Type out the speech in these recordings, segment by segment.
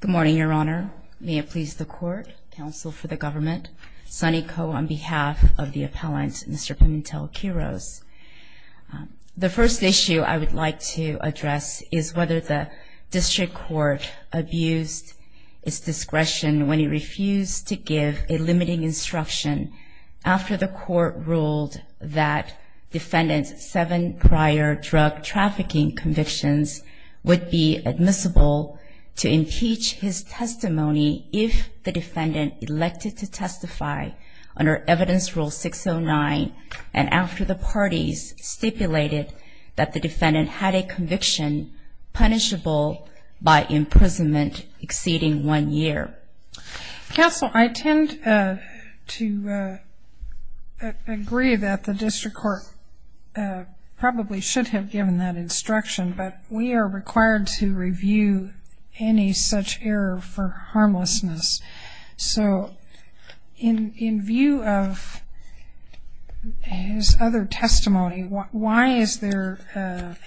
Good morning, Your Honor. May it please the Court, Counsel for the Government, Sunny Koh on behalf of the appellant, Mr. Pimentel-Quiroz. The first issue I would like to address is whether the District Court abused its discretion when it refused to give a limiting instruction after the Court ruled that defendant's seven prior drug trafficking convictions would be admissible to impeach his testimony if the defendant elected to testify under Evidence Rule 609 and after the parties stipulated that the defendant had a conviction punishable by imprisonment exceeding one year. Counsel, I tend to agree that the District Court probably should have given that instruction, but we are required to review any such error for harmlessness. So in view of his other testimony, why is there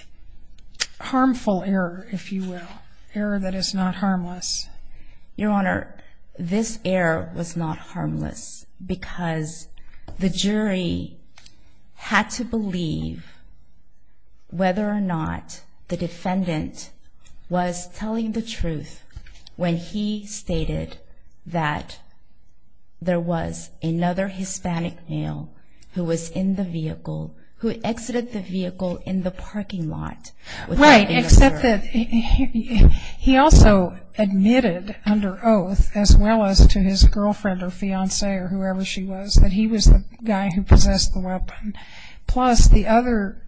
harmful error, if you will, in error that is not harmless? Your Honor, this error was not harmless because the jury had to believe whether or not the defendant was telling the truth when he stated that there was another Hispanic male who was in the vehicle, who exited the vehicle in the parking lot with the victim. Right, except that he also admitted under oath, as well as to his girlfriend or fiancée or whoever she was, that he was the guy who possessed the weapon. Plus the other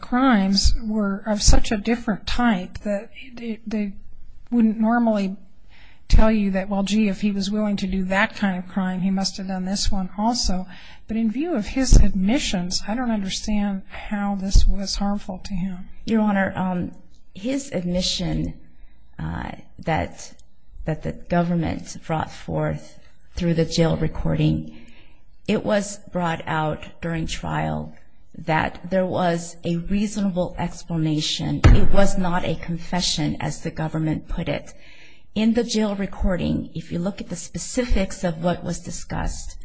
crimes were of such a different type that they wouldn't normally tell you that, well, gee, if he was willing to do that kind of crime, he must have done this one also. But in view of his admissions, I don't understand how this was harmful to him. Your Honor, his admission that the government brought forth through the jail recording, it was brought out during trial that there was a reasonable explanation. It was not a confession, as the government put it. In the jail recording, if you look at the specifics of what was discussed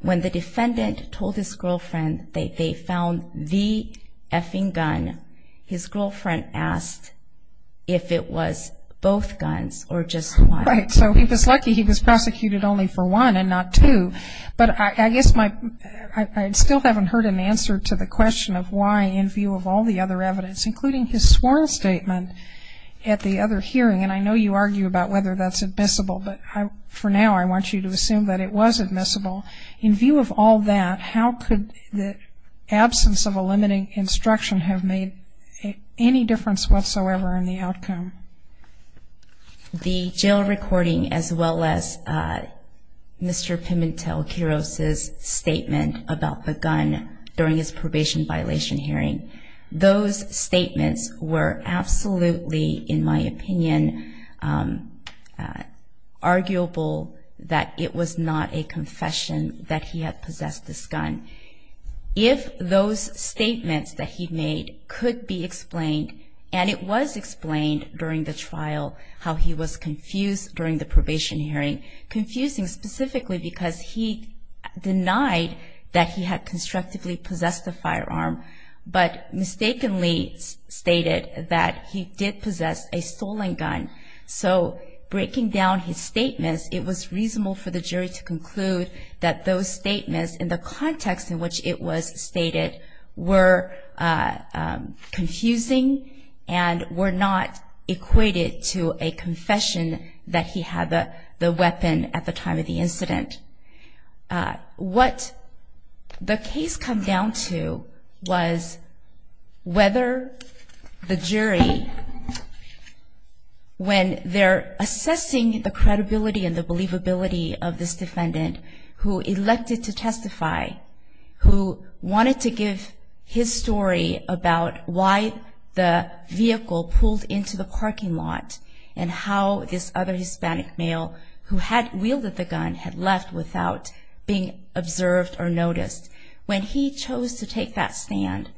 when the defendant told his girlfriend that they found the effing gun, his girlfriend asked if it was both guns or just one. Right, so he was lucky he was prosecuted only for one and not two. But I guess I still haven't heard an answer to the question of why in view of all the other evidence, including his sworn statement at the other hearing, and I know you argue about whether that's admissible, but for now I want you to assume that it was admissible. In view of all that, how could the absence of a limiting instruction have made any difference whatsoever in the outcome? The jail recording, as well as Mr. Pimentel-Quiroz's statement about the gun during his probation violation hearing, those statements were absolutely, in my opinion, arguable that it was not admissible. And I believe that Mr. Pimentel-Quiroz's statement was not a confession that he had possessed this gun. If those statements that he made could be explained, and it was explained during the trial how he was confused during the probation hearing, confusing specifically because he denied that he had constructively possessed the firearm, but mistakenly stated that he did possess a stolen gun. So, breaking down his statements, it was reasonable for the jury to conclude that those statements, in the context in which it was stated, were confusing and were not equated to a confession that he had the weapon at the time of the incident. What the case come down to was whether the jury was able to determine whether Mr. Pimentel-Quiroz was guilty or not. When they're assessing the credibility and the believability of this defendant, who elected to testify, who wanted to give his story about why the vehicle pulled into the parking lot and how this other Hispanic male who had wielded the gun had left without being observed or noticed, when he chose to take that stand,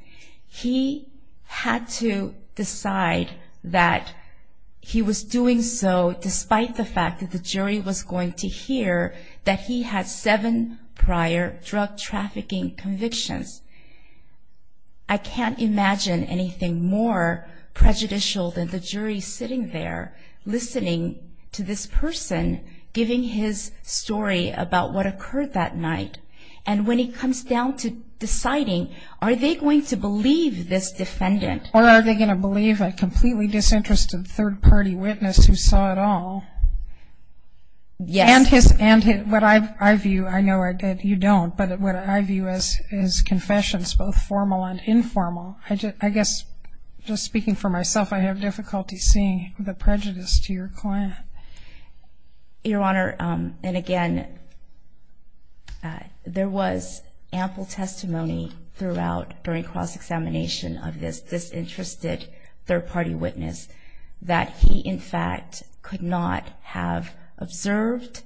he had to decide whether that he was doing so despite the fact that the jury was going to hear that he had seven prior drug trafficking convictions. I can't imagine anything more prejudicial than the jury sitting there, listening to this person giving his story about what occurred that night, and when he comes down to deciding, are they going to believe this defendant? Or are they going to believe a completely disinterested third-party witness who saw it all? Yes. And what I view, I know you don't, but what I view as confessions, both formal and informal. I guess, just speaking for myself, I have difficulty seeing the prejudice to your client. Your Honor, and again, there was ample testimony throughout during cross-examination of this disinterested third-party witness that he, in fact, could not have observed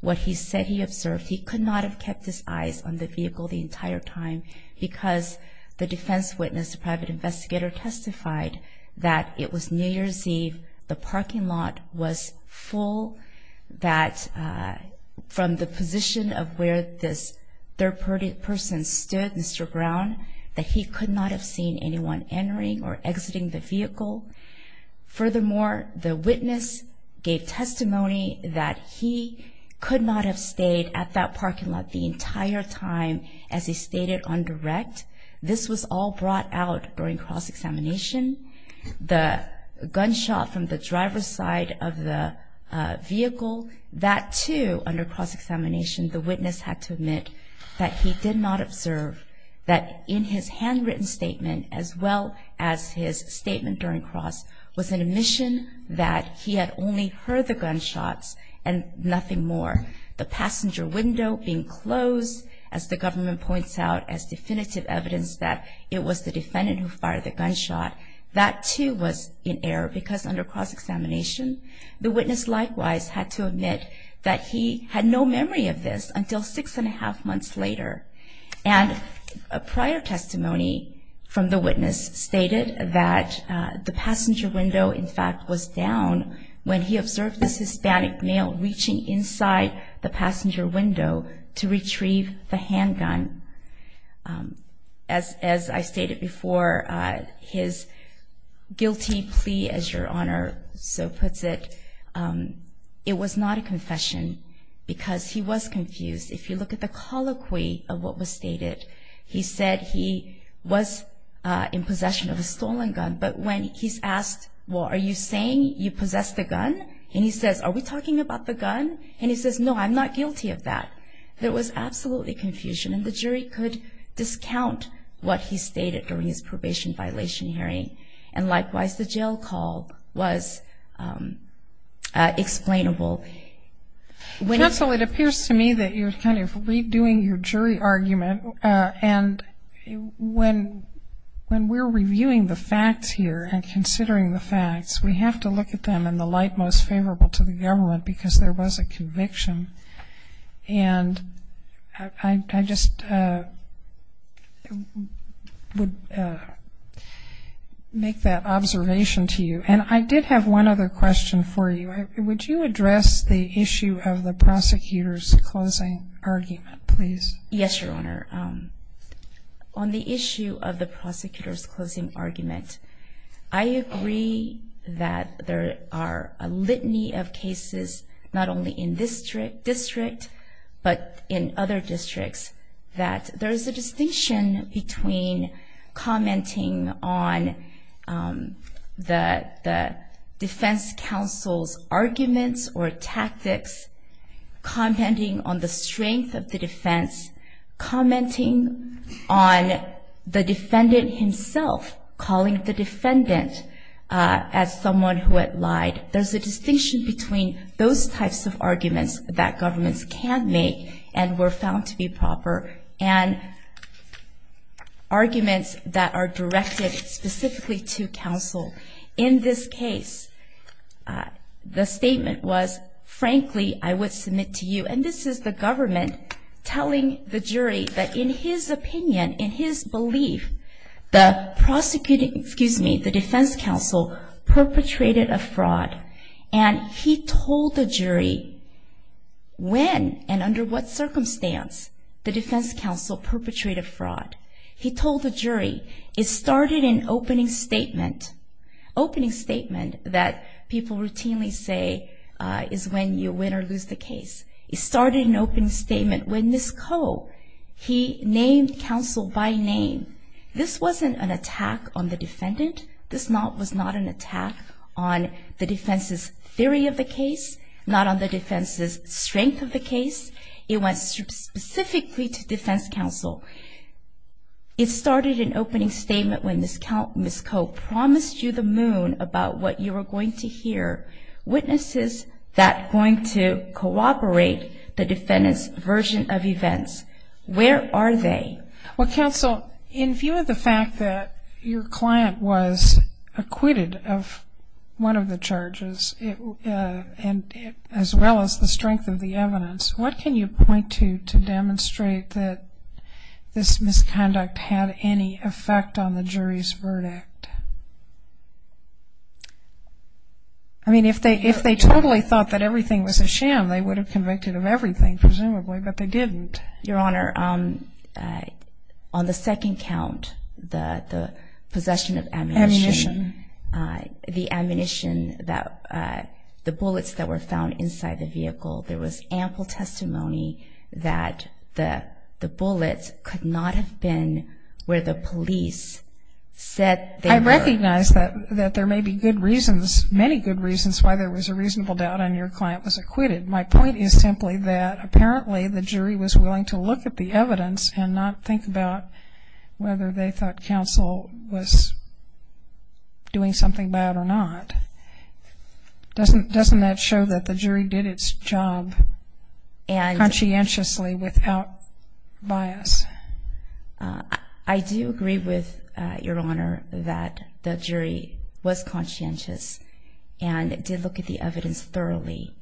what he said he observed. He could not have kept his eyes on the vehicle the entire time because the defense witness, the private investigator, testified that it was New Year's Eve, the parking lot was full, that from the position of where this third-party person stood, Mr. Brown, that he could not have seen anyone entering or exiting the vehicle. Furthermore, the witness gave testimony that he could not have stayed at that parking lot the entire time, as he stated on direct. This was all brought out during cross-examination. The gunshot from the driver's side of the vehicle, that too, under cross-examination, the witness had to admit that he did not observe that in his handwritten statement, as well as his statement during cross, was an admission that he had only heard the gunshots and nothing more. The passenger window being closed, as the government points out as definitive evidence that it was the defendant who fired the gunshot, that too was in error because under cross-examination, the witness likewise had to admit that he had no memory of this until six and a half months later. And a prior testimony from the witness stated that the passenger window, in fact, was down when he observed this Hispanic male reaching inside the passenger window to retrieve the handgun. As I stated before, his guilty plea, as Your Honor so puts it, it was not a confession because he was confused. If you look at the colloquy of what was stated, he said he was in possession of a stolen gun, but when he's asked, well, are you saying you possess the gun? And he says, are we talking about the gun? And he says, no, I'm not guilty of that. There was absolutely confusion, and the jury could discount what he stated during his probation violation hearing. And likewise, the jail call was explainable. Counsel, it appears to me that you're kind of redoing your jury argument, and when we're reviewing the facts here and considering the facts, we have to look at them in the light most favorable to the government because there was a conviction. And I just would like to make that observation to you. And I did have one other question for you. Would you address the issue of the prosecutor's closing argument, please? Yes, Your Honor. On the issue of the prosecutor's closing argument, I agree that there are a litany of cases not only in this district, but in other districts, that there's a distinction between commenting on the defense counsel's arguments or tactics, commenting on the strength of the defense, commenting on the defendant himself calling the defendant as someone who had lied. There's a distinction between those types of arguments that governments can make and were found to be proper and arguments that are directed specifically to counsel. In this case, the statement was, frankly, I would submit to you, and this is the government telling the jury that in his opinion, in his belief, the defense counsel perpetrated a fraud. He told the jury, it started an opening statement, opening statement that people routinely say is when you win or lose the case. It started an opening statement when this co, he named counsel by name. This wasn't an attack on the defendant. This was not an attack on the defense's strength of the case. It was specifically to defense counsel. It started an opening statement when this co promised you the moon about what you were going to hear, witnesses that going to cooperate the defendant's version of events. Where are they? Well, counsel, in view of the fact that your client was acquitted of one of the charges and as well as the strength of the evidence, what can you point to to demonstrate that this misconduct had any effect on the jury's verdict? I mean, if they totally thought that everything was a sham, they would have convicted of everything, presumably, but they didn't. Your Honor, on the second count, the possession of ammunition, the ammunition that was used that, the bullets that were found inside the vehicle, there was ample testimony that the bullets could not have been where the police said they were. I recognize that there may be good reasons, many good reasons why there was a reasonable doubt on your client was acquitted. My point is simply that apparently the jury was willing to look at the evidence and not think about whether they thought counsel was doing something bad or not. Doesn't that show that the jury did its job conscientiously without bias? I do agree with your Honor that the jury was conscientious and did look at the evidence thoroughly.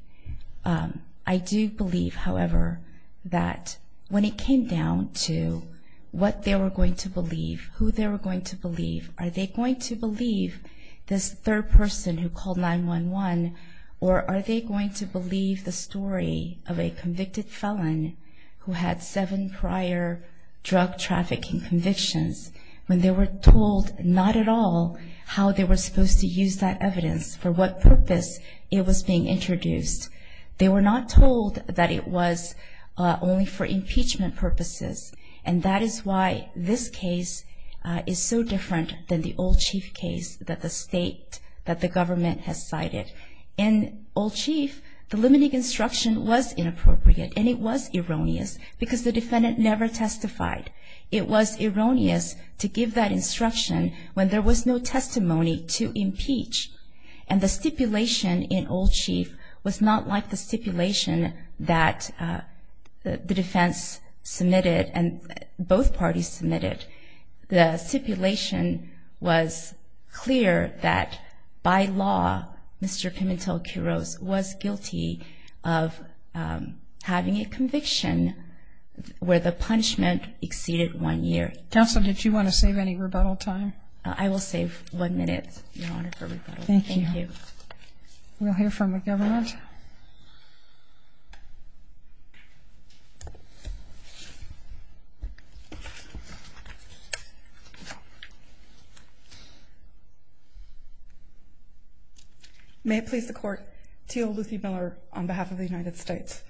I do believe, however, that when it came down to what they were going to believe, who they were going to believe, are they going to believe this third person who called 911, or are they going to believe the story of a convicted felon who had seven prior drug trafficking convictions when they were told not at all how they were supposed to use that evidence, for what purpose it was being introduced. They were not told that it was only for impeachment purposes. And that is why this case is so different than the Old Chief case that the state, that the government has cited. In Old Chief, the limiting instruction was inappropriate and it was erroneous because the defendant never testified. It was erroneous to give that instruction when there was no testimony to impeach. And the stipulation in Old Chief was not like the stipulation that the defense submitted and both parties submitted. The stipulation was clear that by law, Mr. Pimentel-Quiroz was guilty of having a conviction where the punishment exceeded one year. Counsel, did you want to save any rebuttal time? I will save one minute, Your Honor, for rebuttal. Thank you. We'll hear from the government. May it please the Court, Teal Luthy Miller on behalf of the United States.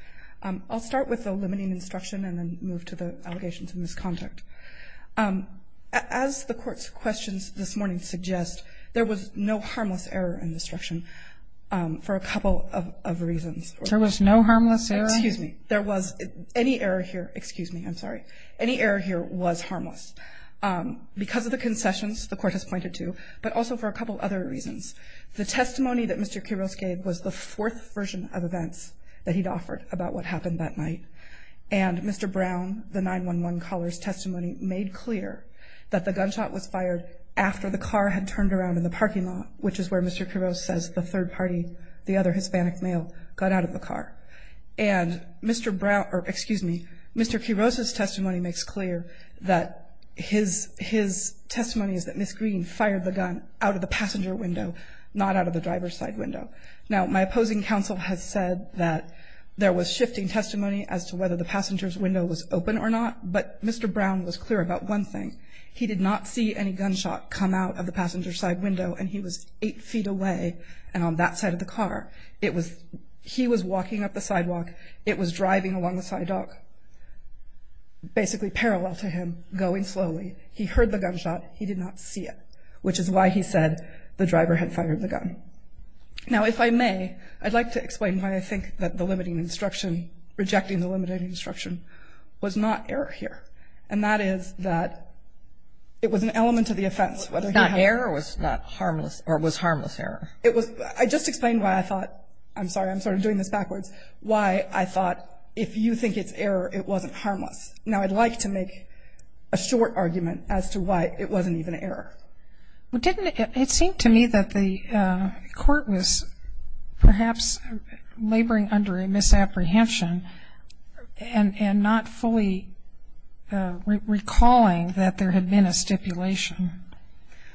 I'll start with the limiting instruction and then move to the allegations of misconduct. As the Court's this morning suggests, there was no harmless error in the instruction for a couple of reasons. There was no harmless error? Excuse me. There was any error here. Excuse me. I'm sorry. Any error here was harmless because of the concessions the Court has pointed to, but also for a couple of other reasons. The testimony that Mr. Quiroz gave was the fourth version of events that he'd offered about what happened that night. And Mr. Brown, the 911 caller's testimony, made clear that the gunshot was fired after the car had turned around in the parking lot, which is where Mr. Quiroz says the third party, the other Hispanic male, got out of the car. And Mr. Brown, or excuse me, Mr. Quiroz's testimony makes clear that his testimony is that Ms. Green fired the gun out of the passenger window, not out of the driver's side window. Now, my opposing counsel has said that there was shifting testimony as to whether the passenger's about one thing. He did not see any gunshot come out of the passenger's side window and he was eight feet away and on that side of the car. It was, he was walking up the sidewalk. It was driving along the sidewalk, basically parallel to him, going slowly. He heard the gunshot. He did not see it, which is why he said the driver had fired the gun. Now, if I may, I'd like to explain why I think that the limiting instruction, rejecting the limiting instruction, was not error here. And that is that it was an element of the offense. It was not error or it was harmless error? It was, I just explained why I thought, I'm sorry, I'm sort of doing this backwards, why I thought if you think it's error, it wasn't harmless. Now, I'd like to make a short argument as to why it wasn't even error. Well, didn't it, it seemed to me that the court was perhaps laboring under a misapprehension and not fully recalling that there had been a stipulation.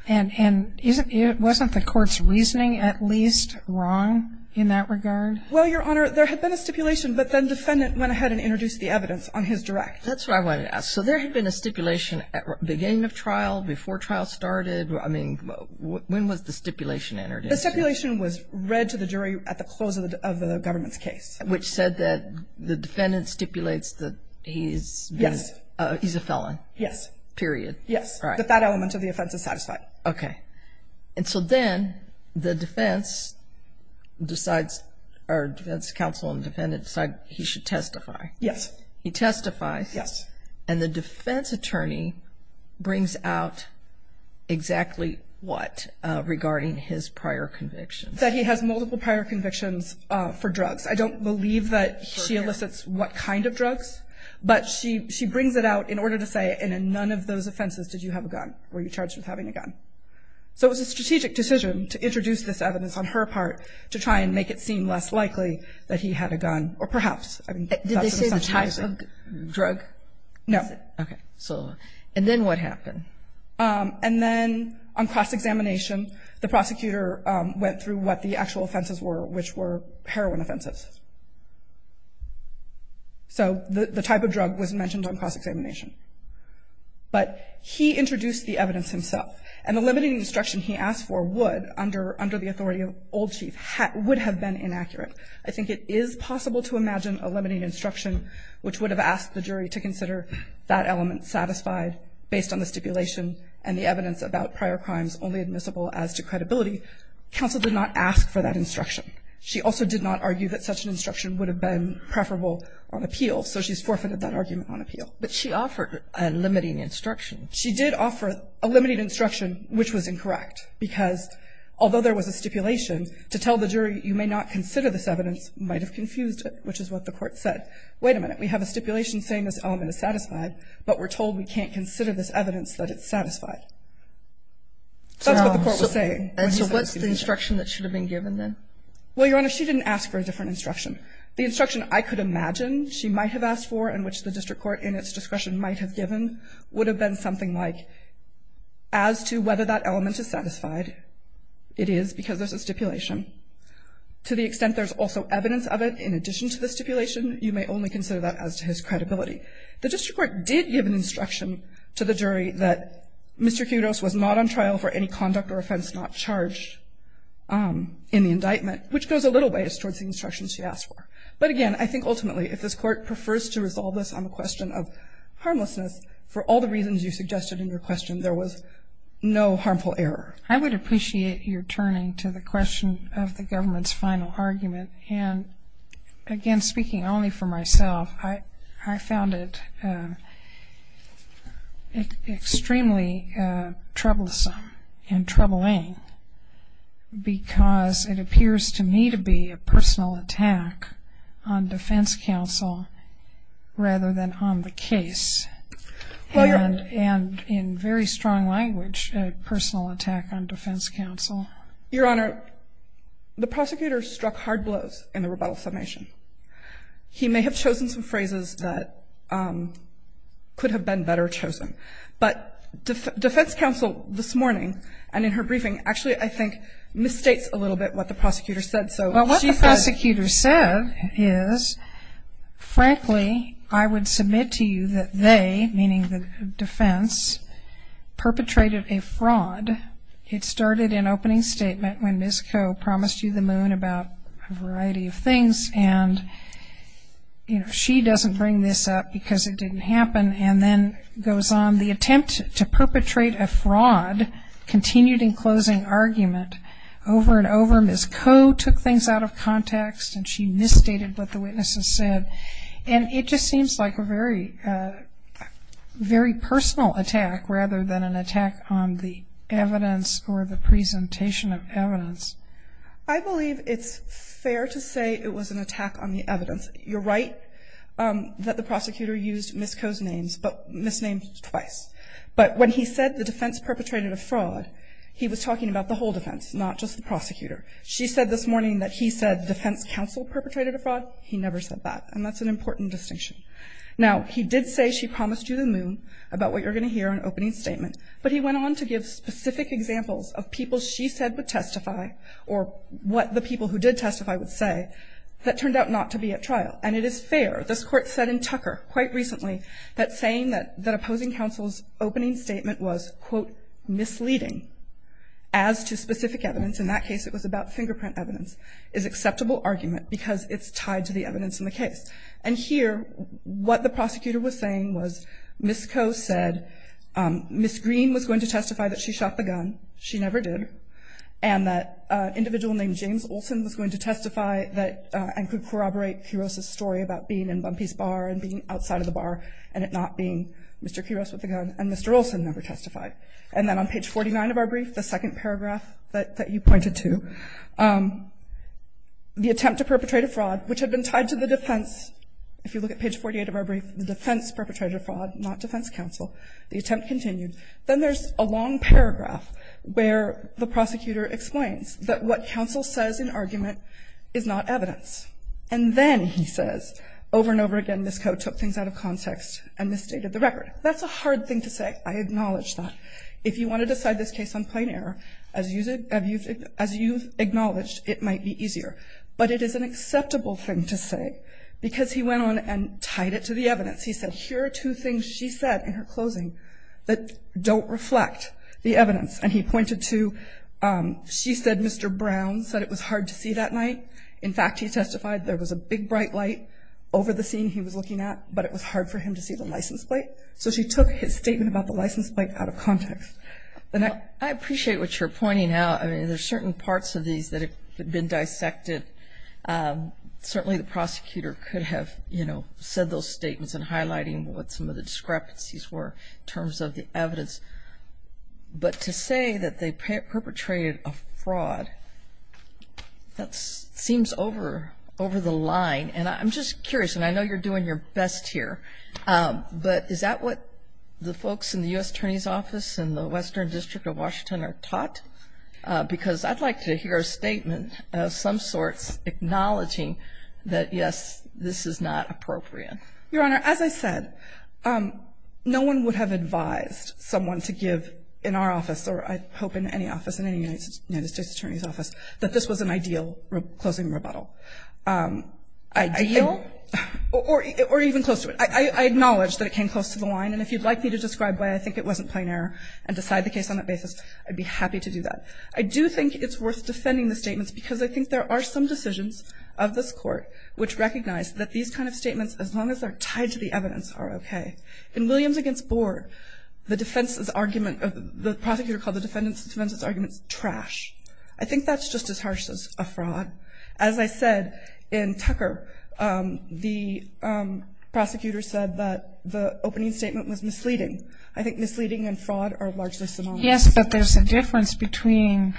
And isn't, wasn't the court's reasoning at least wrong in that regard? Well, Your Honor, there had been a stipulation, but then defendant went ahead and introduced the evidence on his direct. That's what I wanted to ask. So there had been a stipulation at the beginning of trial, before trial started? I mean, when was the stipulation entered into? The stipulation was read to the jury at the close of the government's case. Which said that the defendant stipulates that he's a felon? Yes. Period. Yes. But that element of the offense is satisfied. Okay. And so then the defense decides, or defense counsel and defendant decide he should testify. Yes. He testifies. Yes. And the defense attorney brings out exactly what regarding his prior convictions? That he has multiple prior convictions for drugs. I don't believe that she elicits what kind of drugs. But she, she brings it out in order to say, and in none of those offenses did you have a gun? Were you charged with having a gun? So it was a strategic decision to introduce this evidence on her part to try and make it seem less likely that he had a gun, or perhaps. Did they say the type of drug? No. Okay. So, and then what happened? And then on cross-examination, the prosecutor went through what the actual offenses were, which were heroin offenses. So the type of drug was mentioned on cross-examination. But he introduced the evidence himself. And the limiting instruction he asked for would, under the authority of old chief, would have been inaccurate. I think it is possible to imagine a limiting instruction which would have asked the jury to consider that element satisfied based on the stipulation and the evidence about prior crimes only admissible as to credibility. Counsel did not ask for that instruction. She also did not argue that such an instruction would have been preferable on appeal. So she's forfeited that argument on appeal. But she offered a limiting instruction. She did offer a limiting instruction, which was incorrect. Because although there was a stipulation, to tell the jury you may not consider this evidence might have confused it, which is what the Court said. Wait a minute. We have a stipulation saying this element is satisfied, but we're told we can't consider this evidence that it's satisfied. That's what the Court was saying. And so what's the instruction that should have been given then? Well, Your Honor, she didn't ask for a different instruction. The instruction I could imagine she might have asked for and which the district court in its discretion might have given would have been something like, as to whether that element is satisfied, it is because there's a stipulation. To the extent there's also evidence of it in addition to the stipulation, you may only consider that as to his credibility. The district court did give an instruction to the jury that Mr. Kudos was not on trial for any conduct or offense not charged in the indictment. Which goes a little ways towards the instructions she asked for. But again, I think ultimately, if this Court prefers to resolve this on the question of harmlessness, for all the reasons you suggested in your question, there was no harmful error. I would appreciate your turning to the question of the government's final argument. And again, speaking only for myself, I found it extremely troublesome and troubling because it appears to me to be a personal attack on defense counsel rather than on the case. And in very strong language, a personal attack on defense counsel. Your Honor, the prosecutor struck hard blows in the rebuttal summation. He may have chosen some phrases that could have been better chosen. But defense counsel this morning, and in her briefing, actually, I think, misstates a little bit what the prosecutor said. Well, what the prosecutor said is, frankly, I would submit to you that they, meaning the defense, perpetrated a fraud. It started in opening statement when Ms. Ko promised you the moon about a variety of things. And she doesn't bring this up because it didn't happen. And then goes on, the attempt to perpetrate a fraud continued in closing argument. Over and over, Ms. Ko took things out of context and she misstated what the witnesses said. And it just seems like a very, very personal attack rather than an attack on the evidence or the presentation of evidence. I believe it's fair to say it was an attack on the evidence. You're right that the prosecutor used Ms. Ko's names, but misnamed twice. But when he said the defense perpetrated a fraud, he was talking about the whole defense, not just the prosecutor. She said this morning that he said defense counsel perpetrated a fraud. He never said that, and that's an important distinction. Now, he did say she promised you the moon about what you're going to hear in opening statement. But he went on to give specific examples of people she said would testify, or what the people who did testify would say, that turned out not to be at trial. And it is fair, this court said in Tucker quite recently, that saying that opposing counsel's opening statement was, quote, misleading. As to specific evidence, in that case it was about fingerprint evidence, is acceptable argument because it's tied to the evidence in the case. And here, what the prosecutor was saying was, Ms. Ko said, Ms. Green was going to testify that she shot the gun, she never did. And that an individual named James Olsen was going to testify that, and could corroborate Kuros' story about being in Bumpy's bar and being outside of the bar. And it not being Mr. Kuros with a gun, and Mr. Olsen never testified. And then on page 49 of our brief, the second paragraph that you pointed to, the attempt to perpetrate a fraud, which had been tied to the defense. If you look at page 48 of our brief, the defense perpetrated a fraud, not defense counsel. The attempt continued. Then there's a long paragraph where the prosecutor explains that what counsel says in argument is not evidence. And then he says, over and over again, Ms. Ko took things out of context and misstated the record. That's a hard thing to say, I acknowledge that. If you want to decide this case on plain error, as you've acknowledged, it might be easier. But it is an acceptable thing to say, because he went on and tied it to the evidence. He said, here are two things she said in her closing that don't reflect the evidence. And he pointed to, she said Mr. Brown said it was hard to see that night. In fact, he testified there was a big bright light over the scene he was looking at, but it was hard for him to see the license plate. So she took his statement about the license plate out of context. And I appreciate what you're pointing out. I mean, there's certain parts of these that have been dissected. Certainly, the prosecutor could have said those statements and highlighting what some of the discrepancies were in terms of the evidence. But to say that they perpetrated a fraud, that seems over the line. And I'm just curious, and I know you're doing your best here, but is that what the folks in the US Attorney's Office and the Western District of Washington are taught? Because I'd like to hear a statement of some sorts acknowledging that, yes, this is not appropriate. Your Honor, as I said, no one would have advised someone to give in our office, or I hope in any office, in any United States Attorney's Office, that this was an ideal closing rebuttal. Ideal? Or even close to it. I acknowledge that it came close to the line. And if you'd like me to describe why I think it wasn't plain error and decide the case on that basis, I'd be happy to do that. I do think it's worth defending the statements because I think there are some decisions of this court which recognize that these kind of statements, as long as they're tied to the evidence, are okay. In Williams against Boer, the prosecutor called the defendant's arguments trash. I think that's just as harsh as a fraud. As I said, in Tucker, the prosecutor said that the opening statement was misleading. I think misleading and fraud are largely synonymous. Yes, but there's a difference between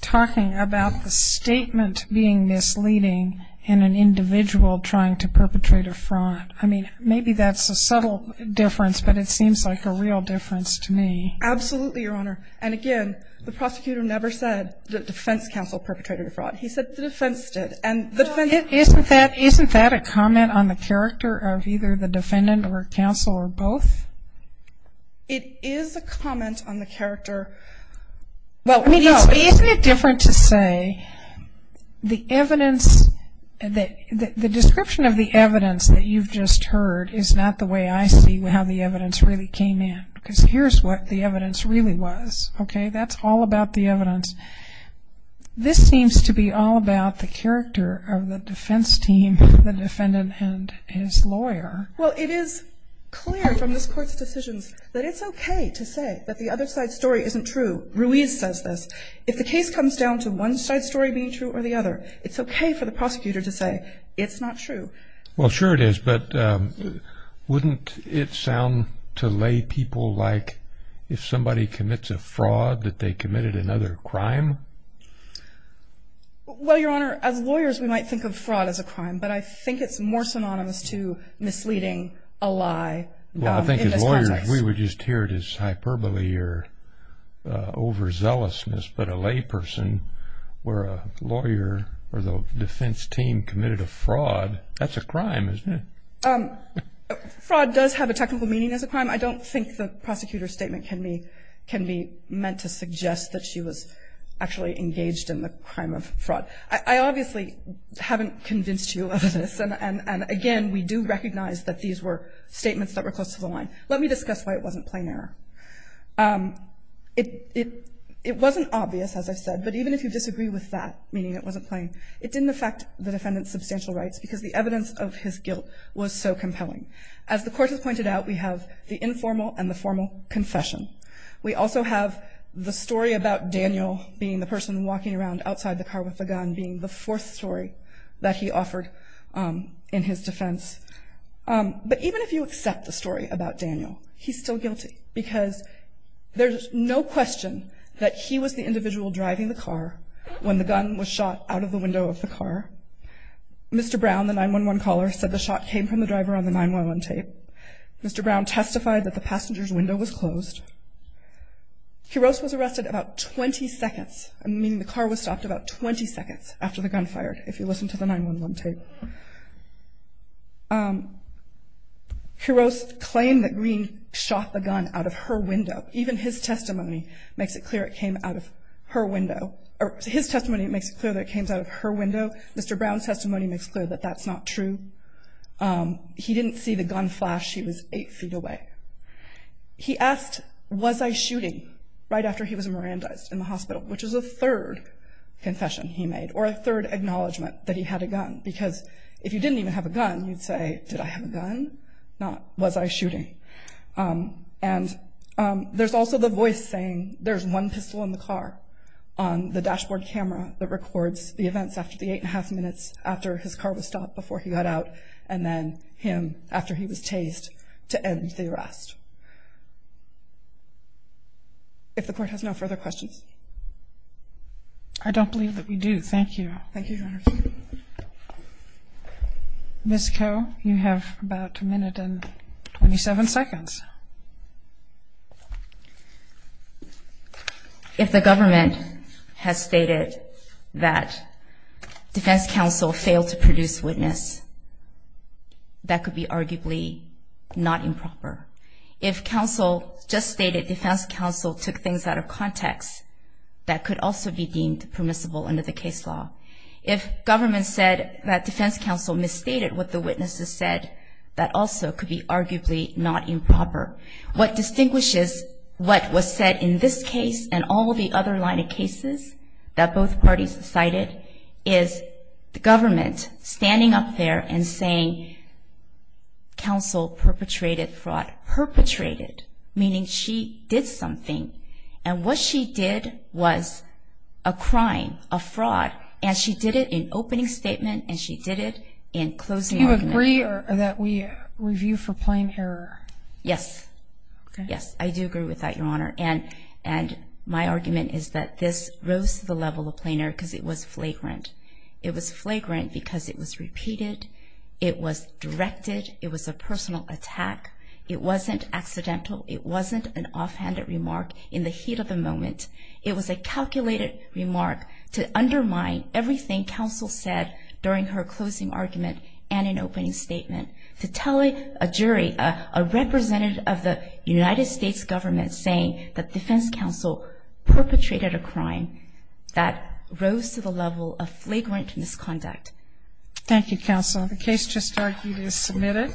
talking about the statement being misleading in an individual trying to perpetrate a fraud. I mean, maybe that's a subtle difference, but it seems like a real difference to me. Absolutely, Your Honor. And again, the prosecutor never said that defense counsel perpetrated a fraud. He said the defense did. And the defense- Isn't that a comment on the character of either the defendant or counsel or both? It is a comment on the character. Well, I mean, isn't it different to say the evidence, the description of the evidence that you've just heard is not the way I see how the evidence really came in, because here's what the evidence really was, okay? That's all about the evidence. This seems to be all about the character of the defense team, the defendant and his lawyer. Well, it is clear from this court's decisions that it's okay to say that the other side's story isn't true. Ruiz says this. If the case comes down to one side's story being true or the other, it's okay for the prosecutor to say it's not true. Well, sure it is, but wouldn't it sound to lay people like if somebody commits a fraud that they committed another crime? Well, Your Honor, as lawyers, we might think of fraud as a crime, but I think it's more synonymous to misleading a lie in this context. Well, I think as lawyers, we would just hear it as hyperbole or overzealousness, but a layperson where a lawyer or the defense team committed a fraud, that's a crime, isn't it? Fraud does have a technical meaning as a crime. I don't think the prosecutor's statement can be meant to suggest that she was actually engaged in the crime of fraud. I obviously haven't convinced you of this, and again, we do recognize that these were statements that were close to the line. Let me discuss why it wasn't plain error. It wasn't obvious, as I've said, but even if you disagree with that, meaning it wasn't plain, it didn't affect the defendant's substantial rights because the evidence of his guilt was so compelling. As the court has pointed out, we have the informal and the formal confession. We also have the story about Daniel being the person walking around outside the car with a gun being the fourth story that he offered in his defense. But even if you accept the story about Daniel, he's still guilty because there's no question that he was the individual driving the car when the gun was shot out of the window of the car. Mr. Brown, the 911 caller, said the shot came from the driver on the 911 tape. Quiroz was arrested about 20 seconds, meaning the car was stopped about 20 seconds after the gun fired, if you listen to the 911 tape. Quiroz claimed that Green shot the gun out of her window. Even his testimony makes it clear it came out of her window. Or his testimony makes it clear that it came out of her window. Mr. Brown's testimony makes clear that that's not true. He didn't see the gun flash. He was eight feet away. He asked, was I shooting, right after he was Mirandized in the hospital, which is a third confession he made, or a third acknowledgement that he had a gun. Because if you didn't even have a gun, you'd say, did I have a gun? Not, was I shooting? And there's also the voice saying, there's one pistol in the car on the dashboard camera that records the events after the eight and a half minutes after his car was stopped before he got out. And then him, after he was tased, to end the arrest. If the court has no further questions. I don't believe that we do. Thank you. Thank you, Your Honor. Ms. Ko, you have about a minute and 27 seconds. If the government has stated that Defense Counsel failed to produce witness, that could be arguably not improper. If counsel just stated Defense Counsel took things out of context, that could also be deemed permissible under the case law. If government said that Defense Counsel misstated what the witnesses said, that also could be arguably not improper. What distinguishes what was said in this case and all the other line of cases that both parties cited is the government standing up there and saying, counsel perpetrated fraud. Perpetrated, meaning she did something. And what she did was a crime, a fraud. And she did it in opening statement, and she did it in closing argument. Do you agree that we review for plain error? Yes. Yes, I do agree with that, Your Honor. And my argument is that this rose to the level of plain error because it was flagrant. It was flagrant because it was repeated. It was directed. It was a personal attack. It wasn't accidental. It wasn't an offhanded remark in the heat of the moment. It was a calculated remark to undermine everything counsel said during her closing argument and in opening statement. To tell a jury, a representative of the United States government, saying that defense counsel perpetrated a crime that rose to the level of flagrant misconduct. Thank you, counsel. The case just argued is submitted.